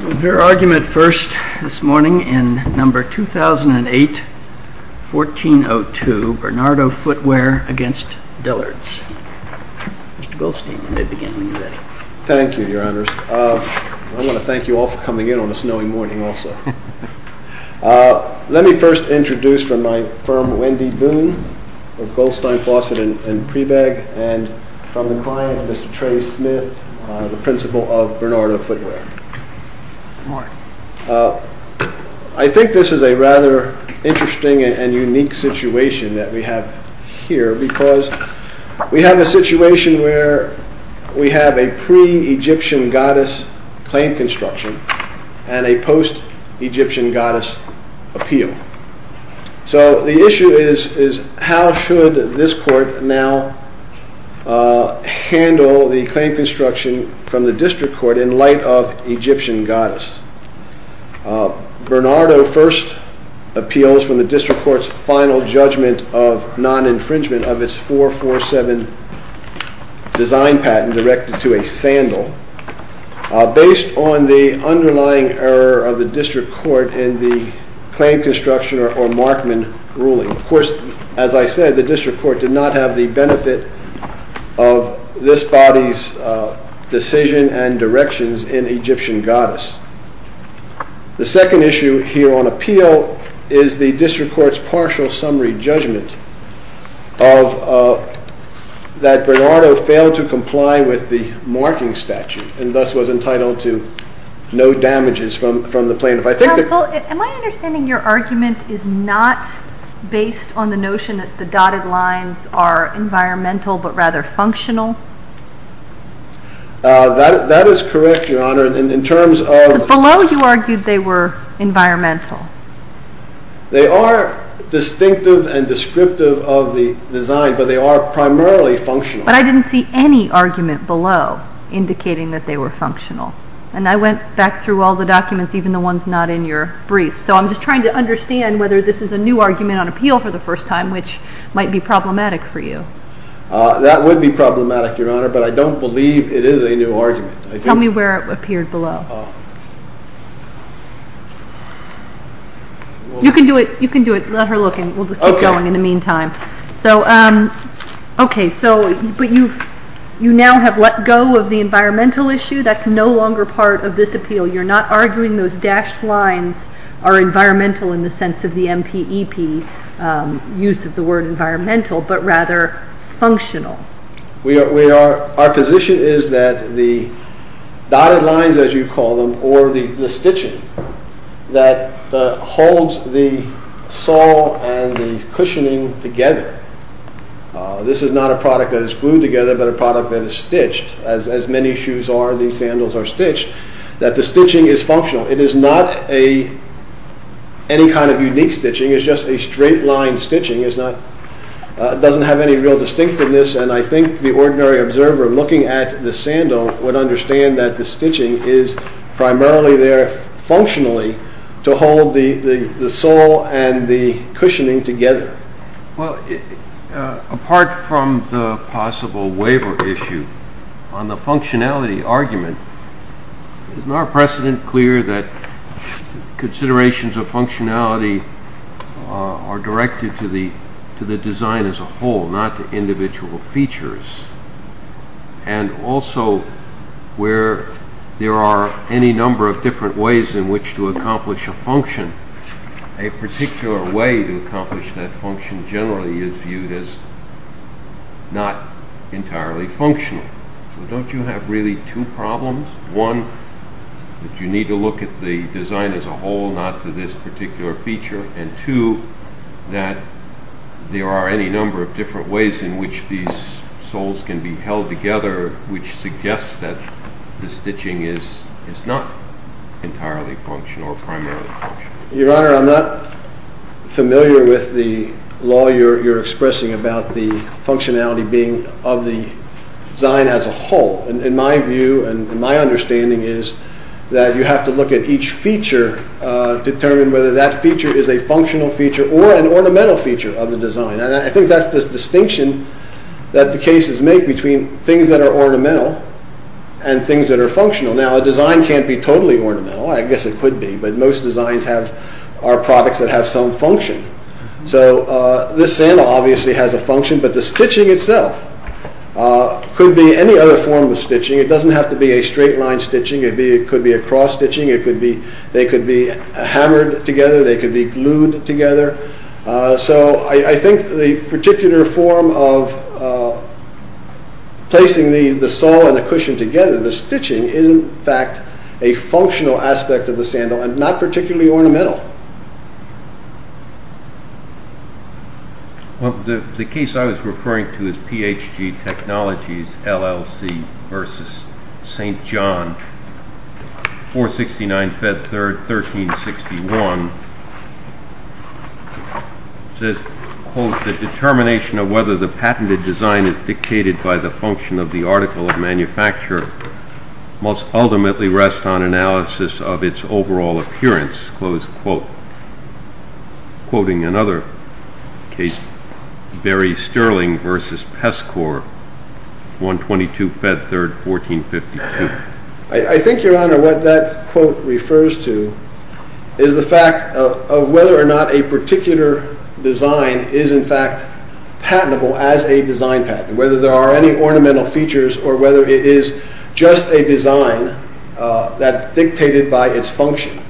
We'll hear argument first this morning in No. 2008-1402, Bernardo Footwear v. Dillard's. Mr. Goldstein, you may begin when you're ready. Thank you, Your Honors. I want to thank you all for coming in on a snowy morning also. Let me first introduce from my firm, Wendy Boone of Goldstein, Fawcett & Preveg, and from the client, Mr. Trey Smith, the principal of Bernardo Footwear. Good morning. I think this is a rather interesting and unique situation that we have here because we have a situation where we have a pre-Egyptian goddess claim construction and a post-Egyptian goddess appeal. So the issue is how should this court now handle the claim construction from the district court in light of Egyptian goddess? Bernardo first appeals from the district court's final judgment of non-infringement of its 447 design patent directed to a sandal based on the underlying error of the district court in the claim construction or markman ruling. Of course, as I said, the district court did not have the benefit of this body's decision and directions in Egyptian goddess. The second issue here on appeal is the district court's partial summary judgment that Bernardo failed to comply with the marking statute and thus was entitled to no damages from the plaintiff. Am I understanding your argument is not based on the notion that the dotted lines are environmental but rather functional? That is correct, Your Honor. Below you argued they were environmental. They are distinctive and descriptive of the design, but they are primarily functional. But I didn't see any argument below indicating that they were functional. And I went back through all the documents, even the ones not in your brief. So I'm just trying to understand whether this is a new argument on appeal for the first time, which might be problematic for you. That would be problematic, Your Honor, but I don't believe it is a new argument. Tell me where it appeared below. You can do it. You can do it. Let her look and we'll just keep going in the meantime. Okay, so you now have let go of the environmental issue. That's no longer part of this appeal. You're not arguing those dashed lines are environmental in the sense of the MPEP use of the word environmental, but rather functional. Our position is that the dotted lines, as you call them, or the stitching that holds the sole and the cushioning together. This is not a product that is glued together, but a product that is stitched. As many shoes are, these sandals are stitched. That the stitching is functional. It is not any kind of unique stitching. It's just a straight line stitching. It doesn't have any real distinctiveness, and I think the ordinary observer looking at the sandal would understand that the stitching is primarily there functionally to hold the sole and the cushioning together. Apart from the possible waiver issue, on the functionality argument, isn't our precedent clear that considerations of functionality are directed to the design as a whole, not to individual features? Also, where there are any number of different ways in which to accomplish a function, a particular way to accomplish that function generally is viewed as not entirely functional. Don't you have really two problems? One, that you need to look at the design as a whole, not to this particular feature. And two, that there are any number of different ways in which these soles can be held together, which suggests that the stitching is not entirely functional or primarily functional. Your Honor, I'm not familiar with the law you're expressing about the functionality being of the design as a whole. In my view and my understanding is that you have to look at each feature, determine whether that feature is a functional feature or an ornamental feature of the design. I think that's the distinction that the cases make between things that are ornamental and things that are functional. Now, a design can't be totally ornamental. I guess it could be, but most designs are products that have some function. So, this sandal obviously has a function, but the stitching itself could be any other form of stitching. It doesn't have to be a straight line stitching. It could be a cross stitching. They could be hammered together. They could be glued together. So, I think the particular form of placing the sole and the cushion together, the stitching, is in fact a functional aspect of the sandal and not particularly ornamental. The case I was referring to is PHG Technologies LLC v. St. John, 469 Fed 3rd, 1361. It says, quote, The determination of whether the patented design is dictated by the function of the article of manufacture must ultimately rest on analysis of its overall appearance. Close quote. Quoting another case, Barry Sterling v. Pescor, 122 Fed 3rd, 1452. I think, Your Honor, what that quote refers to is the fact of whether or not a particular design is in fact patentable as a design patent, whether there are any ornamental features or whether it is just a design that's dictated by its function.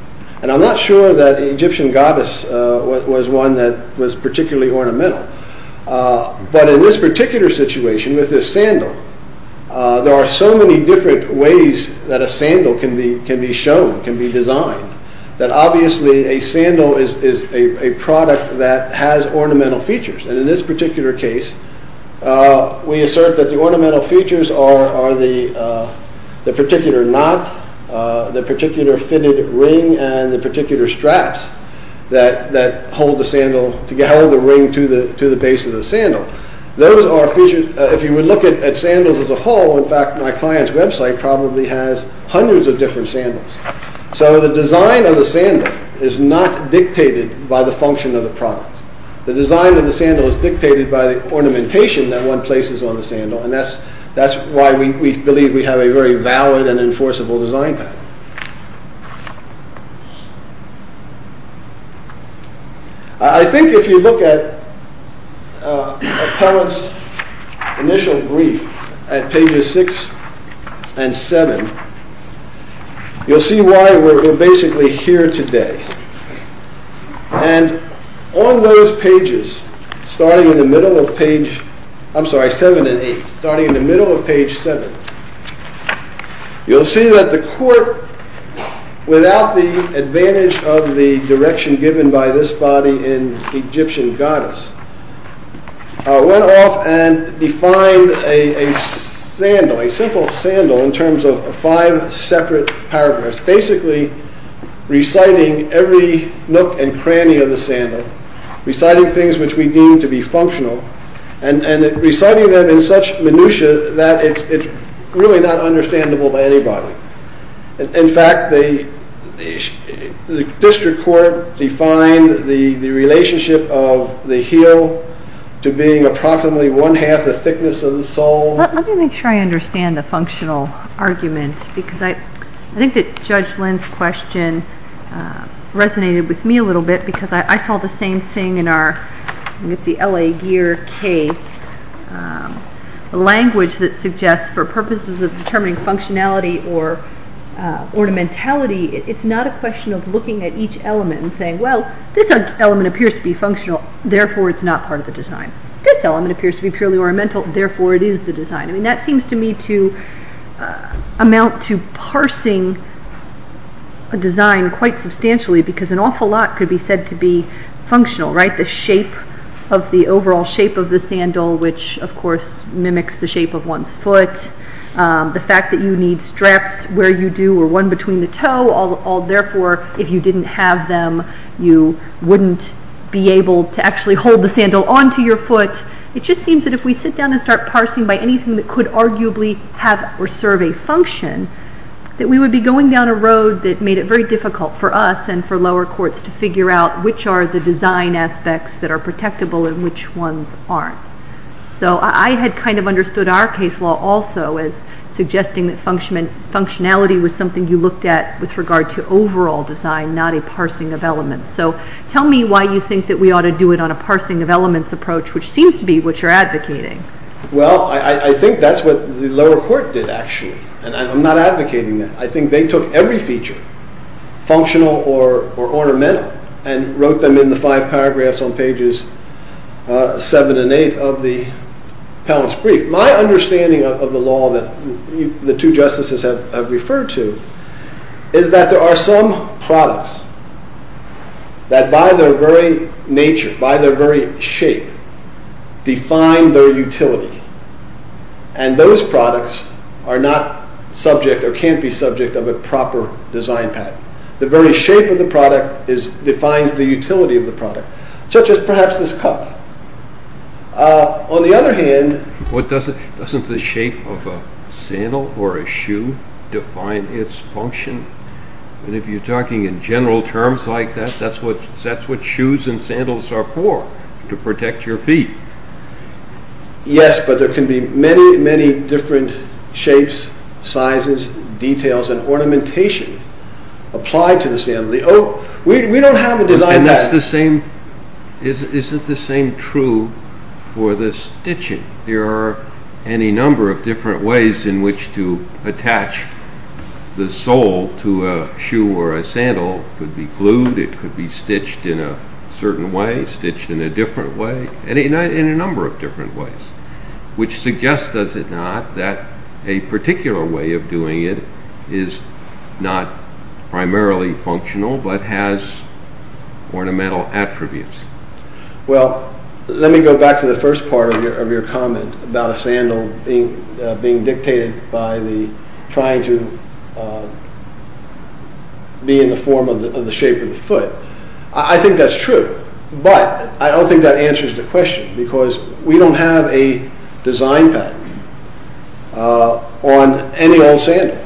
And I'm not sure that the Egyptian goddess was one that was particularly ornamental. But in this particular situation with this sandal, there are so many different ways that a sandal can be shown, can be designed, that obviously a sandal is a product that has ornamental features. And in this particular case, we assert that the ornamental features are the particular knot, the particular fitted ring, and the particular straps that hold the ring to the base of the sandal. Those are features, if you would look at sandals as a whole, in fact my client's website probably has hundreds of different sandals. So the design of the sandal is not dictated by the function of the product. The design of the sandal is dictated by the ornamentation that one places on the sandal. And that's why we believe we have a very valid and enforceable design patent. I think if you look at Appellant's initial brief at pages 6 and 7, you'll see why we're basically here today. And on those pages, starting in the middle of page 7 and 8, starting in the middle of page 7, you'll see that the court, without the advantage of the direction given by this body in Egyptian goddess, went off and defined a sandal, a simple sandal, in terms of five separate paragraphs, basically reciting every nook and cranny of the sandal, reciting things which we deem to be functional, and reciting them in such minutia that it's really not understandable to anybody. In fact, the district court defined the relationship of the heel to being approximately one-half the thickness of the sole. Let me make sure I understand the functional argument, because I think that Judge Lynn's question resonated with me a little bit, because I saw the same thing in our LA Gear case. The language that suggests, for purposes of determining functionality or ornamentality, it's not a question of looking at each element and saying, well, this element appears to be functional, therefore it's not part of the design. This element appears to be purely ornamental, therefore it is the design. That seems to me to amount to parsing a design quite substantially, because an awful lot could be said to be functional, right? The overall shape of the sandal, which of course mimics the shape of one's foot, the fact that you need straps where you do, or one between the toe, all therefore, if you didn't have them, you wouldn't be able to actually hold the sandal onto your foot. It just seems that if we sit down and start parsing by anything that could arguably have or serve a function, that we would be going down a road that made it very difficult for us, and for lower courts, to figure out which are the design aspects that are protectable and which ones aren't. So I had kind of understood our case law also as suggesting that functionality was something you looked at with regard to overall design, not a parsing of elements. So tell me why you think that we ought to do it on a parsing of elements approach, which seems to be what you're advocating. Well, I think that's what the lower court did, actually. And I'm not advocating that. I think they took every feature, functional or ornamental, and wrote them in the 5 paragraphs on pages 7 and 8 of the appellant's brief. My understanding of the law that the 2 justices have referred to is that there are some products that by their very nature, by their very shape, define their utility. And those products are not subject or can't be subject of a proper design patent. The very shape of the product defines the utility of the product, such as perhaps this cup. On the other hand... Doesn't the shape of a sandal or a shoe define its function? And if you're talking in general terms like that, that's what shoes and sandals are for, to protect your feet. Yes, but there can be many, many different shapes, sizes, details, and ornamentation applied to the sandal. We don't have a design patent. Isn't the same true for the stitching? There are any number of different ways in which to attach the sole to a shoe or a sandal. It could be glued, it could be stitched in a certain way, it could be stitched in a different way, in a number of different ways, which suggests, does it not, that a particular way of doing it is not primarily functional but has ornamental attributes. Well, let me go back to the first part of your comment about a sandal being dictated by trying to be in the form of the shape of the foot. I think that's true, but I don't think that answers the question because we don't have a design patent on any old sandal.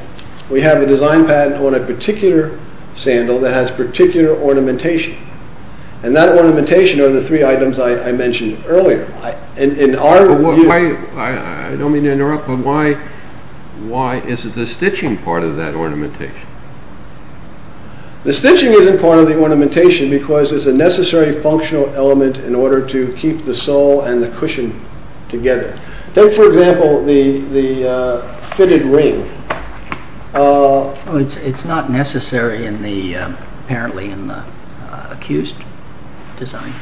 We have a design patent on a particular sandal that has particular ornamentation. And that ornamentation are the three items I mentioned earlier. I don't mean to interrupt, but why is the stitching part of that ornamentation? The stitching isn't part of the ornamentation because it's a necessary functional element in order to keep the sole and the cushion together. Take, for example, the fitted ring. It's not necessary apparently in the accused design.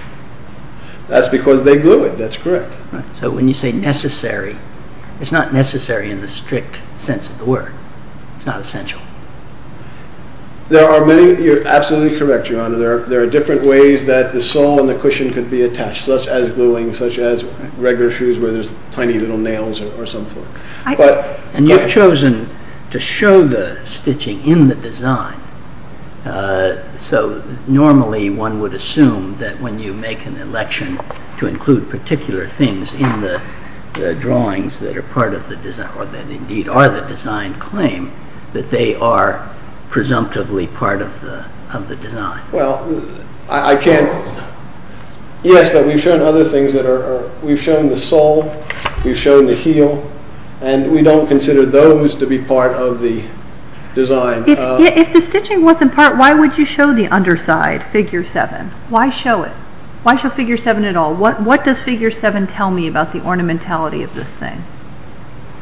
That's because they glue it, that's correct. So when you say necessary, it's not necessary in the strict sense of the word. It's not essential. You're absolutely correct, Your Honor. There are different ways that the sole and the cushion can be attached, such as gluing, such as regular shoes where there's tiny little nails or some sort. And you've chosen to show the stitching in the design. So normally one would assume that when you make an election to include particular things in the drawings that are part of the design or that indeed are the design claim, that they are presumptively part of the design. Well, I can't, yes, but we've shown other things that are, we've shown the sole, we've shown the heel, and we don't consider those to be part of the design. If the stitching wasn't part, why would you show the underside, figure 7? Why show it? Why show figure 7 at all? What does figure 7 tell me about the ornamentality of this thing?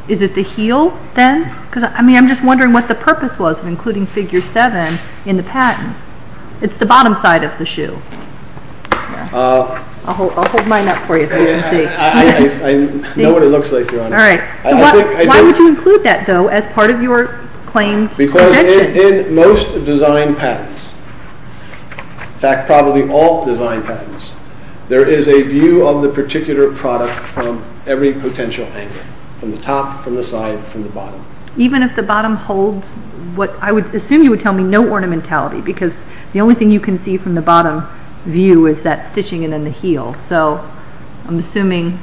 Is it the heel then? I mean, I'm just wondering what the purpose was of including figure 7 in the patent. It's the bottom side of the shoe. I'll hold mine up for you. I know what it looks like, Your Honor. All right. Why would you include that, though, as part of your claims? Because in most design patents, in fact, probably all design patents, there is a view of the particular product from every potential angle, from the top, from the side, from the bottom. Even if the bottom holds what? I would assume you would tell me no ornamentality because the only thing you can see from the bottom view is that stitching and then the heel. So I'm assuming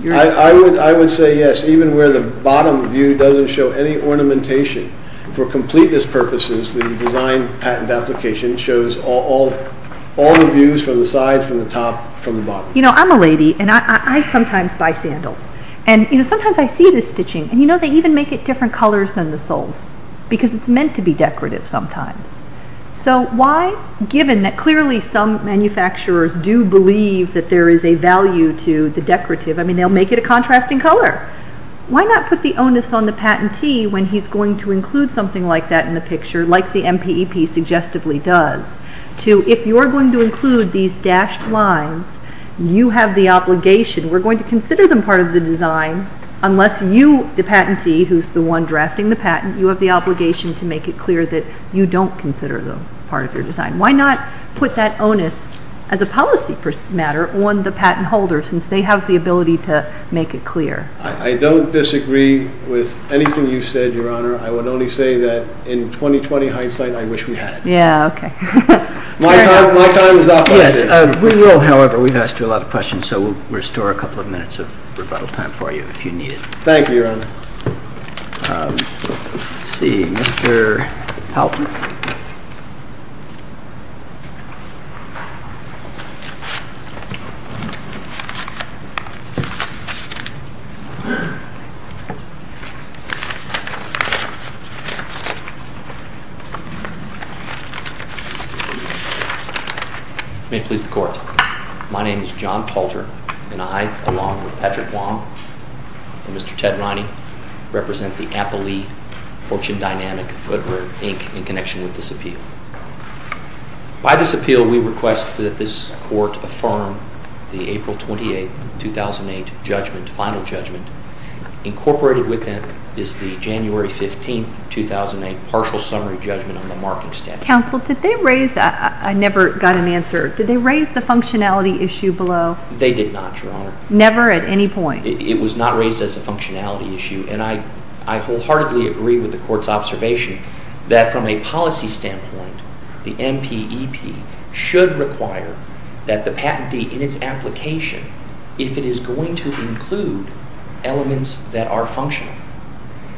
you're— I would say yes, even where the bottom view doesn't show any ornamentation. For completeness purposes, the design patent application shows all the views from the sides, from the top, from the bottom. You know, I'm a lady, and I sometimes buy sandals. Sometimes I see this stitching, and you know they even make it different colors than the soles because it's meant to be decorative sometimes. So why, given that clearly some manufacturers do believe that there is a value to the decorative, I mean, they'll make it a contrasting color. Why not put the onus on the patentee when he's going to include something like that in the picture, like the MPEP suggestively does, to if you're going to include these dashed lines, you have the obligation. We're going to consider them part of the design unless you, the patentee, who's the one drafting the patent, you have the obligation to make it clear that you don't consider them part of your design. Why not put that onus, as a policy matter, on the patent holder since they have the ability to make it clear? I don't disagree with anything you said, Your Honor. I would only say that in 20-20 hindsight, I wish we had. Yeah, okay. My time is up. We will, however, we've asked you a lot of questions, so we'll restore a couple of minutes of rebuttal time for you if you need it. Thank you, Your Honor. Let's see, Mr. Halpern. May it please the Court. My name is John Palter, and I, along with Patrick Wong and Mr. Ted Riney, represent the Appley Fortune Dynamic Footwear, Inc., in connection with this appeal. By this appeal, we request that this Court affirm the April 28, 2008, judgment, final judgment. Incorporated with that is the January 15, 2008, partial summary judgment on the marking statute. Counsel, did they raise that? I never got an answer. Did they raise the functionality issue below? They did not, Your Honor. Never at any point? It was not raised as a functionality issue, and I wholeheartedly agree with the Court's observation that from a policy standpoint, the MPEP should require that the patentee, in its application, if it is going to include elements that are functional,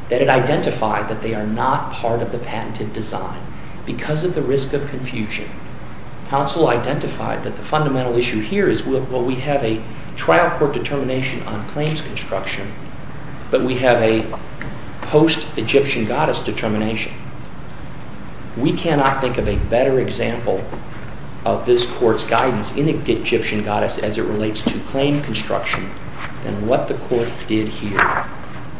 that it identify that they are not part of the patented design. Because of the risk of confusion, counsel identified that the fundamental issue here is, well, we have a trial court determination on claims construction, but we have a post-Egyptian goddess determination. We cannot think of a better example of this Court's guidance in Egyptian goddess as it relates to claim construction than what the Court did here.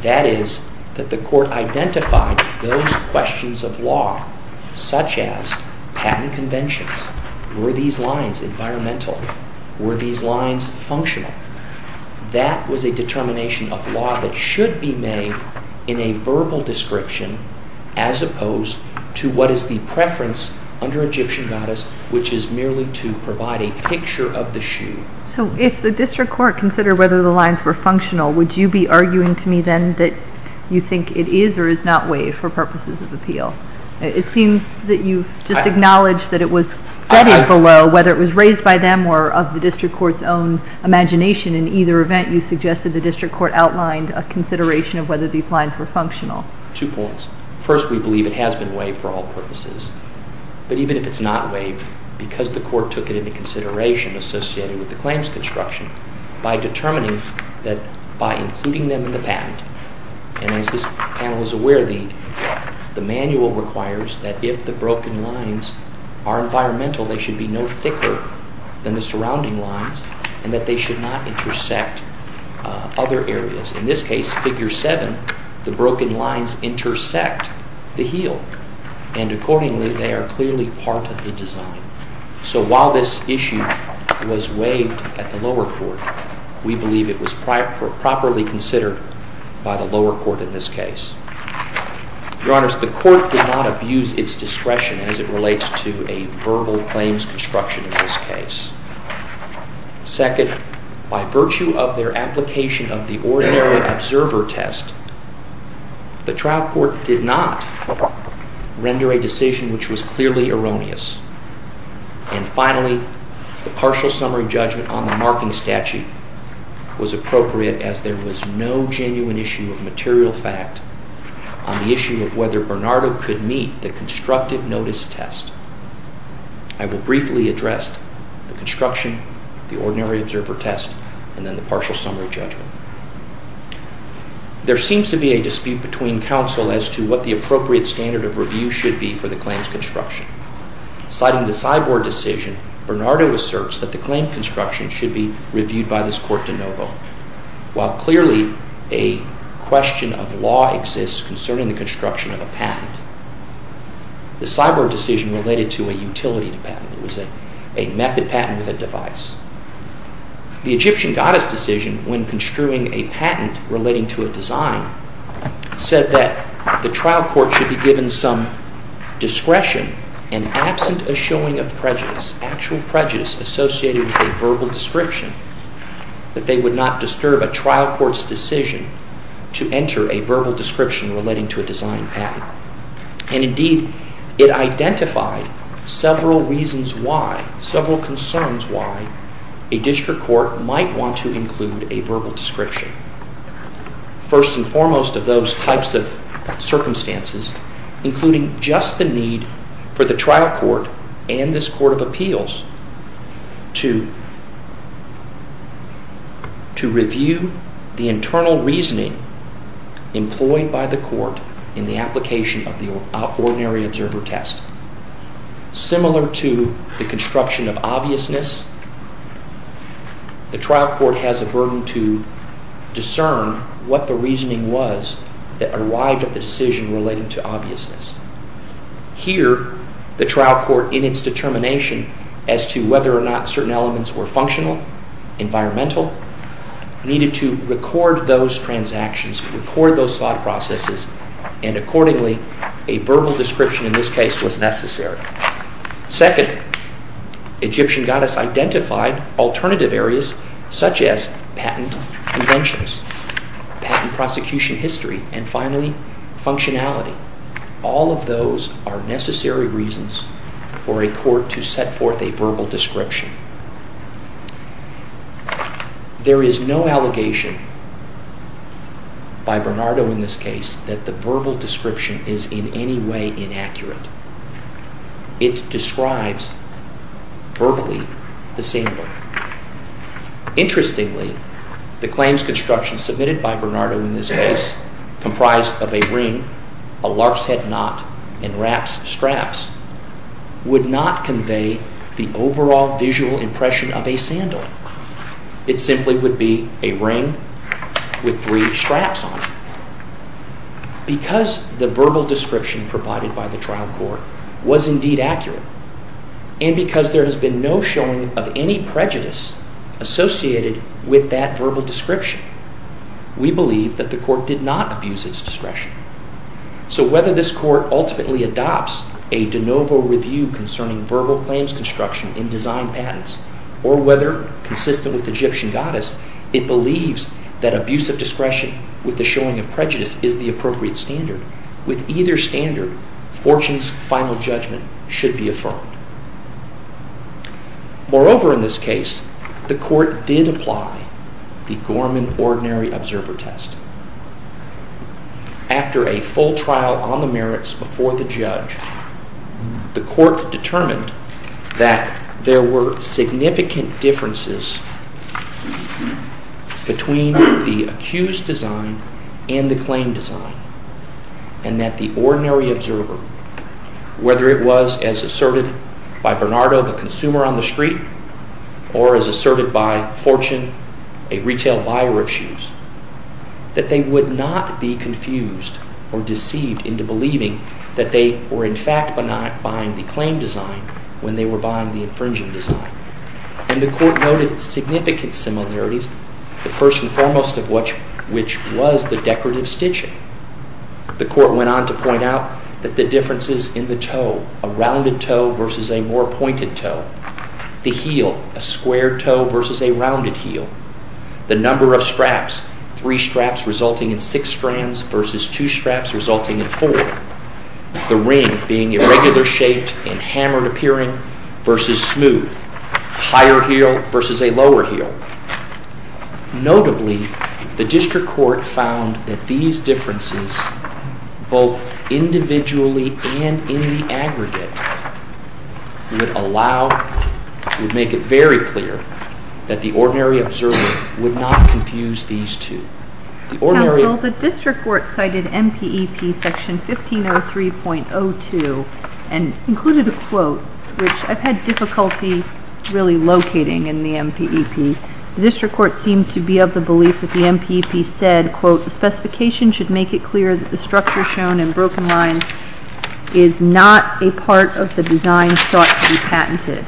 That is, that the Court identified those questions of law, such as patent conventions. Were these lines environmental? Were these lines functional? That was a determination of law that should be made in a verbal description, as opposed to what is the preference under Egyptian goddess, which is merely to provide a picture of the shoe. So if the district court considered whether the lines were functional, would you be arguing to me then that you think it is or is not waived for purposes of appeal? It seems that you just acknowledged that it was studied below, whether it was raised by them or of the district court's own imagination. In either event, you suggested the district court outlined a consideration of whether these lines were functional. Two points. First, we believe it has been waived for all purposes. But even if it is not waived, because the court took it into consideration associated with the claims construction, by determining that by including them in the patent, and as this panel is aware, the manual requires that if the broken lines are environmental, they should be no thicker than the surrounding lines and that they should not intersect other areas. In this case, figure 7, the broken lines intersect the heel. And accordingly, they are clearly part of the design. So while this issue was waived at the lower court, we believe it was properly considered by the lower court in this case. Your Honor, the court did not abuse its discretion as it relates to a verbal claims construction in this case. Second, by virtue of their application of the ordinary observer test, the trial court did not render a decision which was clearly erroneous and finally, the partial summary judgment on the marking statute was appropriate as there was no genuine issue of material fact on the issue of whether Bernardo could meet the constructive notice test. I will briefly address the construction, the ordinary observer test, and then the partial summary judgment. There seems to be a dispute between counsel as to what the appropriate standard of review should be for the claims construction. Citing the Cyborg decision, Bernardo asserts that the claim construction should be reviewed by this court de novo. While clearly a question of law exists concerning the construction of a patent, the Cyborg decision related to a utility patent. It was a method patent with a device. The Egyptian goddess decision, when construing a patent relating to a design, said that the trial court should be given some discretion and absent a showing of prejudice, actual prejudice associated with a verbal description, that they would not disturb a trial court's decision to enter a verbal description relating to a design patent. And indeed, it identified several reasons why, several concerns why, a district court might want to include a verbal description. First and foremost of those types of circumstances, including just the need for the trial court and this court of appeals to review the internal reasoning employed by the court in the application of the ordinary observer test. Similar to the construction of obviousness, the trial court has a burden to discern what the reasoning was that arrived at the decision relating to obviousness. Here, the trial court, in its determination as to whether or not certain elements were functional, environmental, needed to record those transactions, record those thought processes, and accordingly, a verbal description in this case was necessary. Second, Egyptian goddess identified alternative areas such as patent conventions, patent prosecution history, and finally, functionality. All of those are necessary reasons for a court to set forth a verbal description. There is no allegation by Bernardo in this case that the verbal description is in any way inaccurate. It describes verbally the sandal. Interestingly, the claims construction submitted by Bernardo in this case, comprised of a ring, a lark's head knot, and wrap straps, would not convey the overall visual impression of a sandal. It simply would be a ring with three straps on it. Because the verbal description provided by the trial court was indeed accurate, and because there has been no showing of any prejudice associated with that verbal description, we believe that the court did not abuse its discretion. So whether this court ultimately adopts a de novo review concerning verbal claims construction in design patents, or whether, consistent with Egyptian goddess, it believes that abuse of discretion with the showing of prejudice is the appropriate standard, with either standard, Fortune's final judgment should be affirmed. Moreover, in this case, the court did apply the Gorman Ordinary Observer Test. After a full trial on the merits before the judge, the court determined that there were significant differences between the accused's design and the claim design, and that the ordinary observer, whether it was, as asserted by Bernardo, the consumer on the street, or as asserted by Fortune, a retail buyer of shoes, that they would not be confused or deceived into believing that they were in fact buying the claim design when they were buying the infringing design. And the court noted significant similarities, the first and foremost of which was the decorative stitching. The court went on to point out that the differences in the toe, a rounded toe versus a more pointed toe, the heel, a square toe versus a rounded heel, the number of straps, three straps resulting in six strands versus two straps resulting in four, the ring being irregular shaped and hammered appearing versus smooth, higher heel versus a lower heel. Notably, the district court found that these differences, both individually and in the aggregate, would make it very clear that the ordinary observer would not confuse these two. Counsel, the district court cited MPEP section 1503.02 and included a quote, which I've had difficulty really locating in the MPEP. The district court seemed to be of the belief that the MPEP said, quote, the specification should make it clear that the structure shown in broken lines is not a part of the design thought to be patented.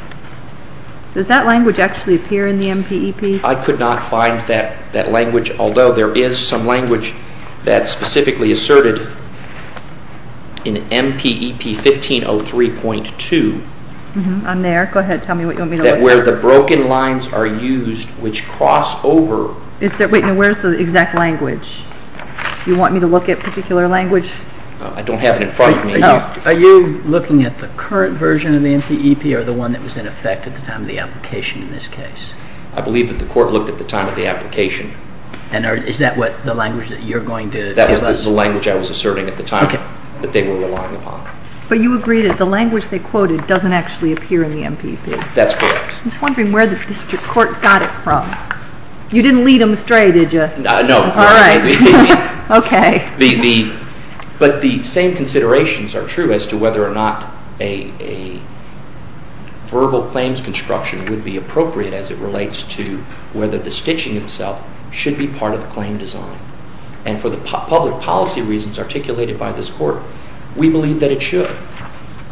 Does that language actually appear in the MPEP? I could not find that language, although there is some language that's specifically asserted in MPEP 1503.2. I'm there. Go ahead. Tell me what you want me to look for. That where the broken lines are used, which cross over. Where's the exact language? You want me to look at a particular language? I don't have it in front of me. Are you looking at the current version of the MPEP or the one that was in effect at the time of the application in this case? I believe that the court looked at the time of the application. Is that the language that you're going to tell us? That was the language I was asserting at the time that they were relying upon. But you agree that the language they quoted doesn't actually appear in the MPEP? That's correct. I'm just wondering where the district court got it from. You didn't lead them astray, did you? No. But the same considerations are true as to whether or not a verbal claims construction would be appropriate as it relates to whether the stitching itself should be part of the claim design. And for the public policy reasons articulated by this court, we believe that it should.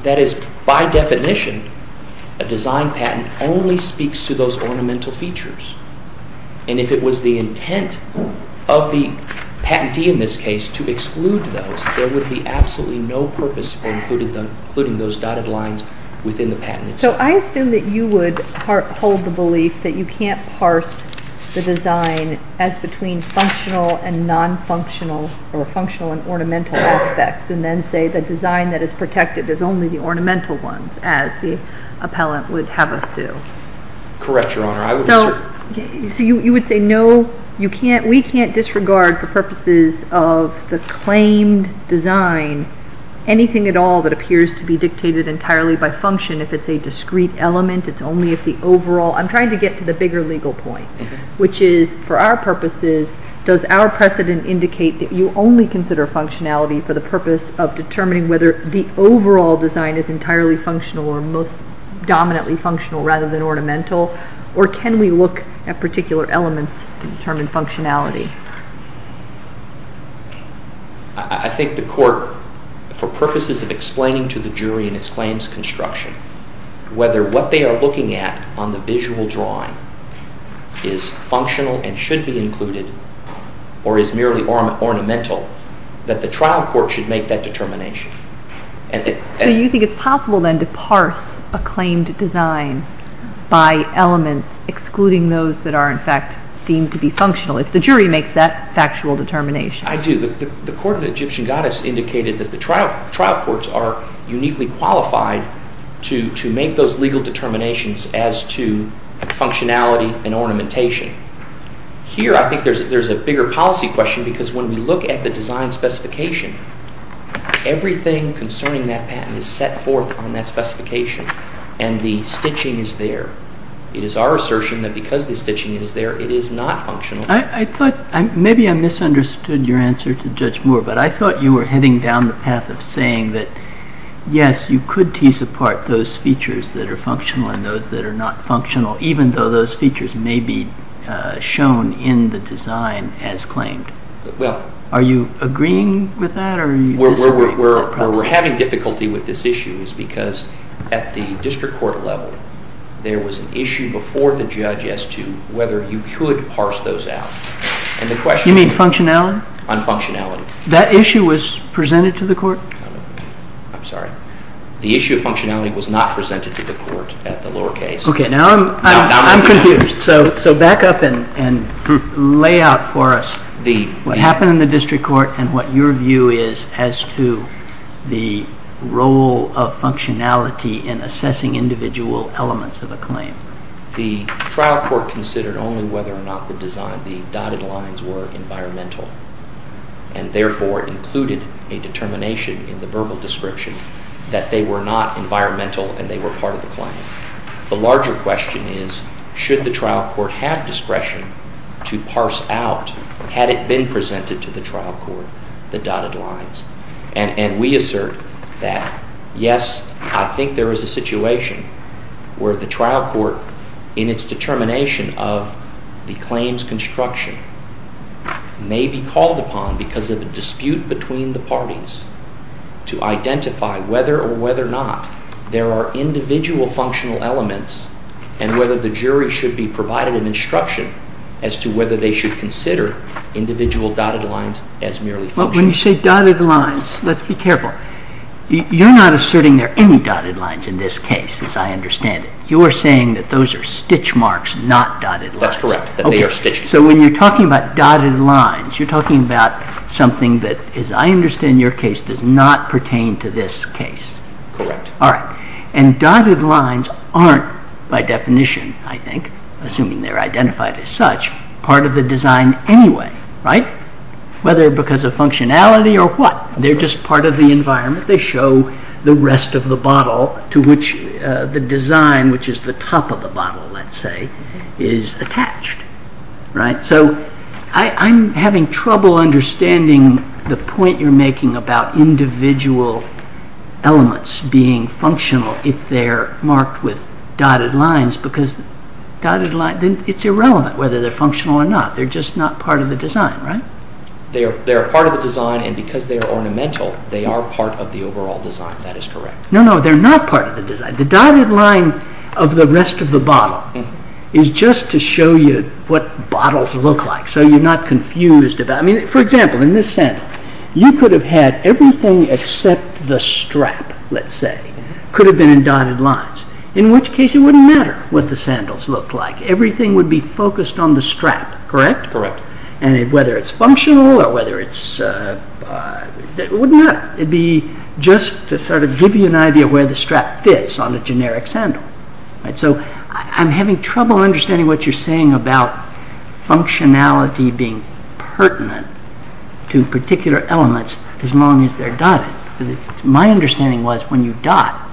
That is, by definition, a design patent only speaks to those ornamental features. And if it was the intent of the patentee in this case to exclude those, there would be absolutely no purpose for including those dotted lines within the patent itself. So I assume that you would hold the belief that you can't parse the design as between functional and ornamental aspects and then say the design that is protected is only the ornamental ones as the appellant would have us do. Correct, Your Honor. So you would say no, we can't disregard for purposes of the claimed design anything at all that appears to be dictated entirely by function. If it's a discrete element, it's only if the overall... I'm trying to get to the bigger legal point, which is, for our purposes, does our precedent indicate that you only consider functionality for the purpose of determining whether the overall design is entirely functional or most dominantly functional rather than ornamental, or can we look at particular elements to determine functionality? I think the court, for purposes of explaining to the jury in its claims construction, whether what they are looking at on the visual drawing is functional and should be included or is merely ornamental, that the trial court should make that determination. So you think it's possible then to parse a claimed design by elements excluding those that are in fact deemed to be functional if the jury makes that factual determination? I do. The Court of the Egyptian Goddess indicated that the trial courts are uniquely qualified to make those legal determinations as to functionality and ornamentation. Here I think there's a bigger policy question because when we look at the design specification, everything concerning that patent is set forth on that specification and the stitching is there. It is our assertion that because the stitching is there, it is not functional. Maybe I misunderstood your answer to Judge Moore, but I thought you were heading down the path of saying that, yes, you could tease apart those features that are functional and those that are not functional, even though those features may be shown in the design as claimed. Are you agreeing with that? We're having difficulty with this issue because at the district court level there was an issue before the judge as to whether you could parse those out. You mean functionality? On functionality. That issue was presented to the court? I'm sorry. The issue of functionality was not presented to the court at the lower case. Okay, now I'm confused. So back up and lay out for us what happened in the district court and what your view is as to the role of functionality in assessing individual elements of a claim. The trial court considered only whether or not the dotted lines were environmental and therefore included a determination in the verbal description that they were not environmental and they were part of the claim. The larger question is, should the trial court have discretion to parse out, had it been presented to the trial court, the dotted lines? And we assert that, yes, I think there is a situation where the trial court in its determination of the claim's construction may be called upon because of a dispute between the parties to identify whether or whether or not there are individual functional elements and whether the jury should be provided an instruction as to whether they should consider individual dotted lines as merely functional. But when you say dotted lines, let's be careful. You're not asserting there are any dotted lines in this case, as I understand it. You are saying that those are stitch marks, not dotted lines. That's correct, that they are stitched. So when you're talking about dotted lines, you're talking about something that, as I understand your case, does not pertain to this case. Correct. All right. And dotted lines aren't, by definition, I think, assuming they're identified as such, part of the design anyway, right? Whether because of functionality or what, they're just part of the environment. They show the rest of the bottle to which the design, which is the top of the bottle, let's say, is attached, right? So I'm having trouble understanding the point you're making about individual elements being functional if they're marked with dotted lines because it's irrelevant whether they're functional or not. They're just not part of the design, right? They are part of the design, and because they are ornamental, they are part of the overall design. That is correct. No, no, they're not part of the design. The dotted line of the rest of the bottle is just to show you what bottles look like so you're not confused. I mean, for example, in this sandal, you could have had everything except the strap, let's say, could have been in dotted lines, in which case it wouldn't matter what the sandals looked like. Everything would be focused on the strap, correct? Correct. And whether it's functional or whether it's… It would not be just to sort of give you an idea of where the strap fits on a generic sandal. So I'm having trouble understanding what you're saying about functionality being pertinent to particular elements as long as they're dotted. My understanding was when you dot,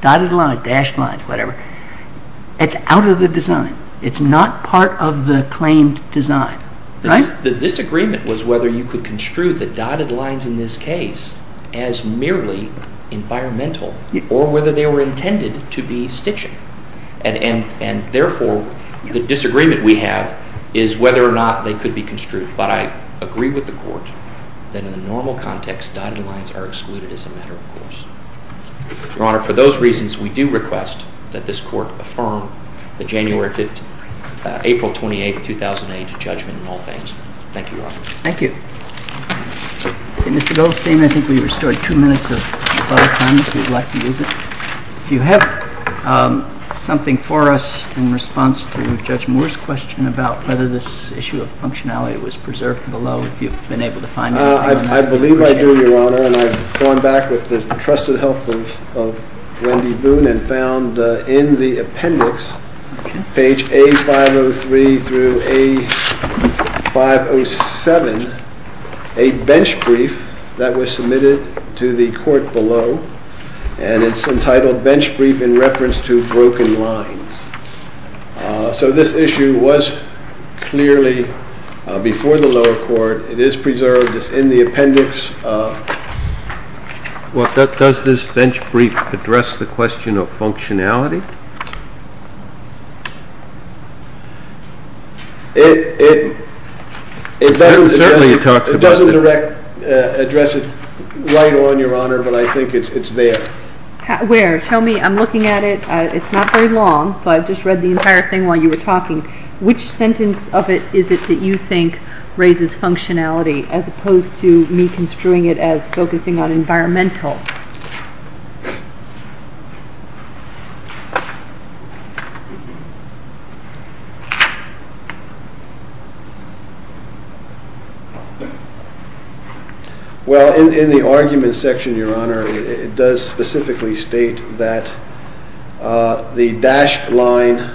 dotted lines, dashed lines, whatever, it's out of the design. It's not part of the claimed design, right? The disagreement was whether you could construe the dotted lines in this case as merely environmental or whether they were intended to be stitching. And therefore, the disagreement we have is whether or not they could be construed. But I agree with the Court that in the normal context, dotted lines are excluded as a matter of course. Your Honor, for those reasons, we do request that this Court affirm the January 15, April 28, 2008 judgment in all things. Thank you, Your Honor. Thank you. Mr. Goldstein, I think we restored two minutes of public time if you'd like to use it. Do you have something for us in response to Judge Moore's question about whether this issue of functionality was preserved below if you've been able to find it? I believe I do, Your Honor. And I've gone back with the trusted help of Wendy Boone and found in the appendix, page A503 through A507, a bench brief that was submitted to the Court below. And it's entitled, Bench Brief in Reference to Broken Lines. So this issue was clearly before the lower court. It is preserved. It's in the appendix. Well, does this bench brief address the question of functionality? It doesn't address it right on, Your Honor, but I think it's there. Where? Tell me. I'm looking at it. It's not very long, so I've just read the entire thing while you were talking. Which sentence of it is it that you think raises functionality as opposed to me construing it as focusing on environmental? Well, in the argument section, Your Honor, it does specifically state that the dashed line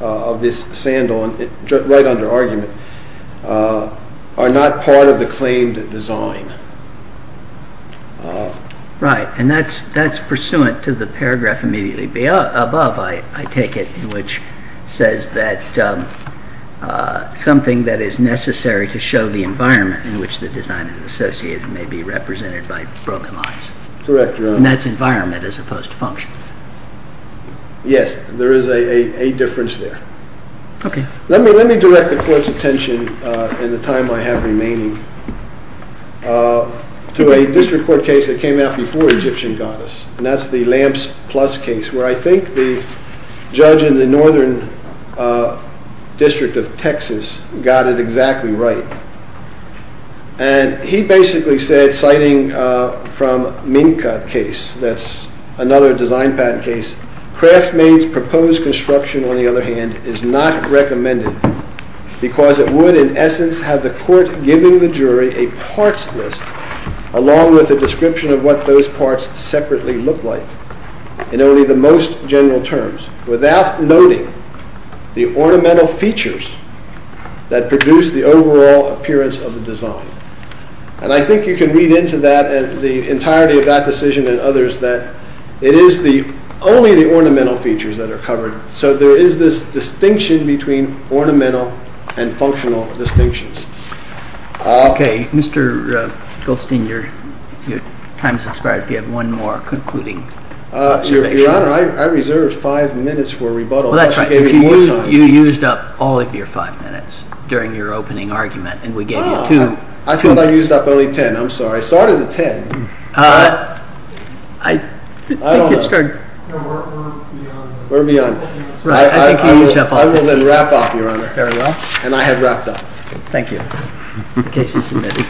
of this sandal, right under argument, are not part of the claimed design. Right. And that's pursuant to the paragraph immediately above, I take it, which says that something that is necessary to show the environment in which the design is associated may be represented by broken lines. Correct, Your Honor. And that's environment as opposed to function. Yes. There is a difference there. Let me direct the Court's attention in the time I have remaining to a district court case that came out before Egyptian Goddess, and that's the Lamps Plus case, where I think the judge in the northern district of Texas got it exactly right. And he basically said, citing from Minka case, that's another design patent case, Craftmade's proposed construction, on the other hand, is not recommended because it would, in essence, have the Court giving the jury a parts list along with a description of what those parts separately look like in only the most general terms, without noting the ornamental features that produce the overall appearance of the design. And I think you can read into that, the entirety of that decision and others, that it is only the ornamental features that are covered. So there is this distinction between ornamental and functional distinctions. Okay. Mr. Goldstein, your time has expired. Do you have one more concluding observation? Your Honor, I reserved five minutes for rebuttal. That's right. You used up all of your five minutes during your opening argument, and we gave you two minutes. I thought I used up only ten. I'm sorry. I started at ten. I don't know. We're beyond. I will then wrap up, Your Honor. Very well. And I have wrapped up. Thank you. Case is submitted.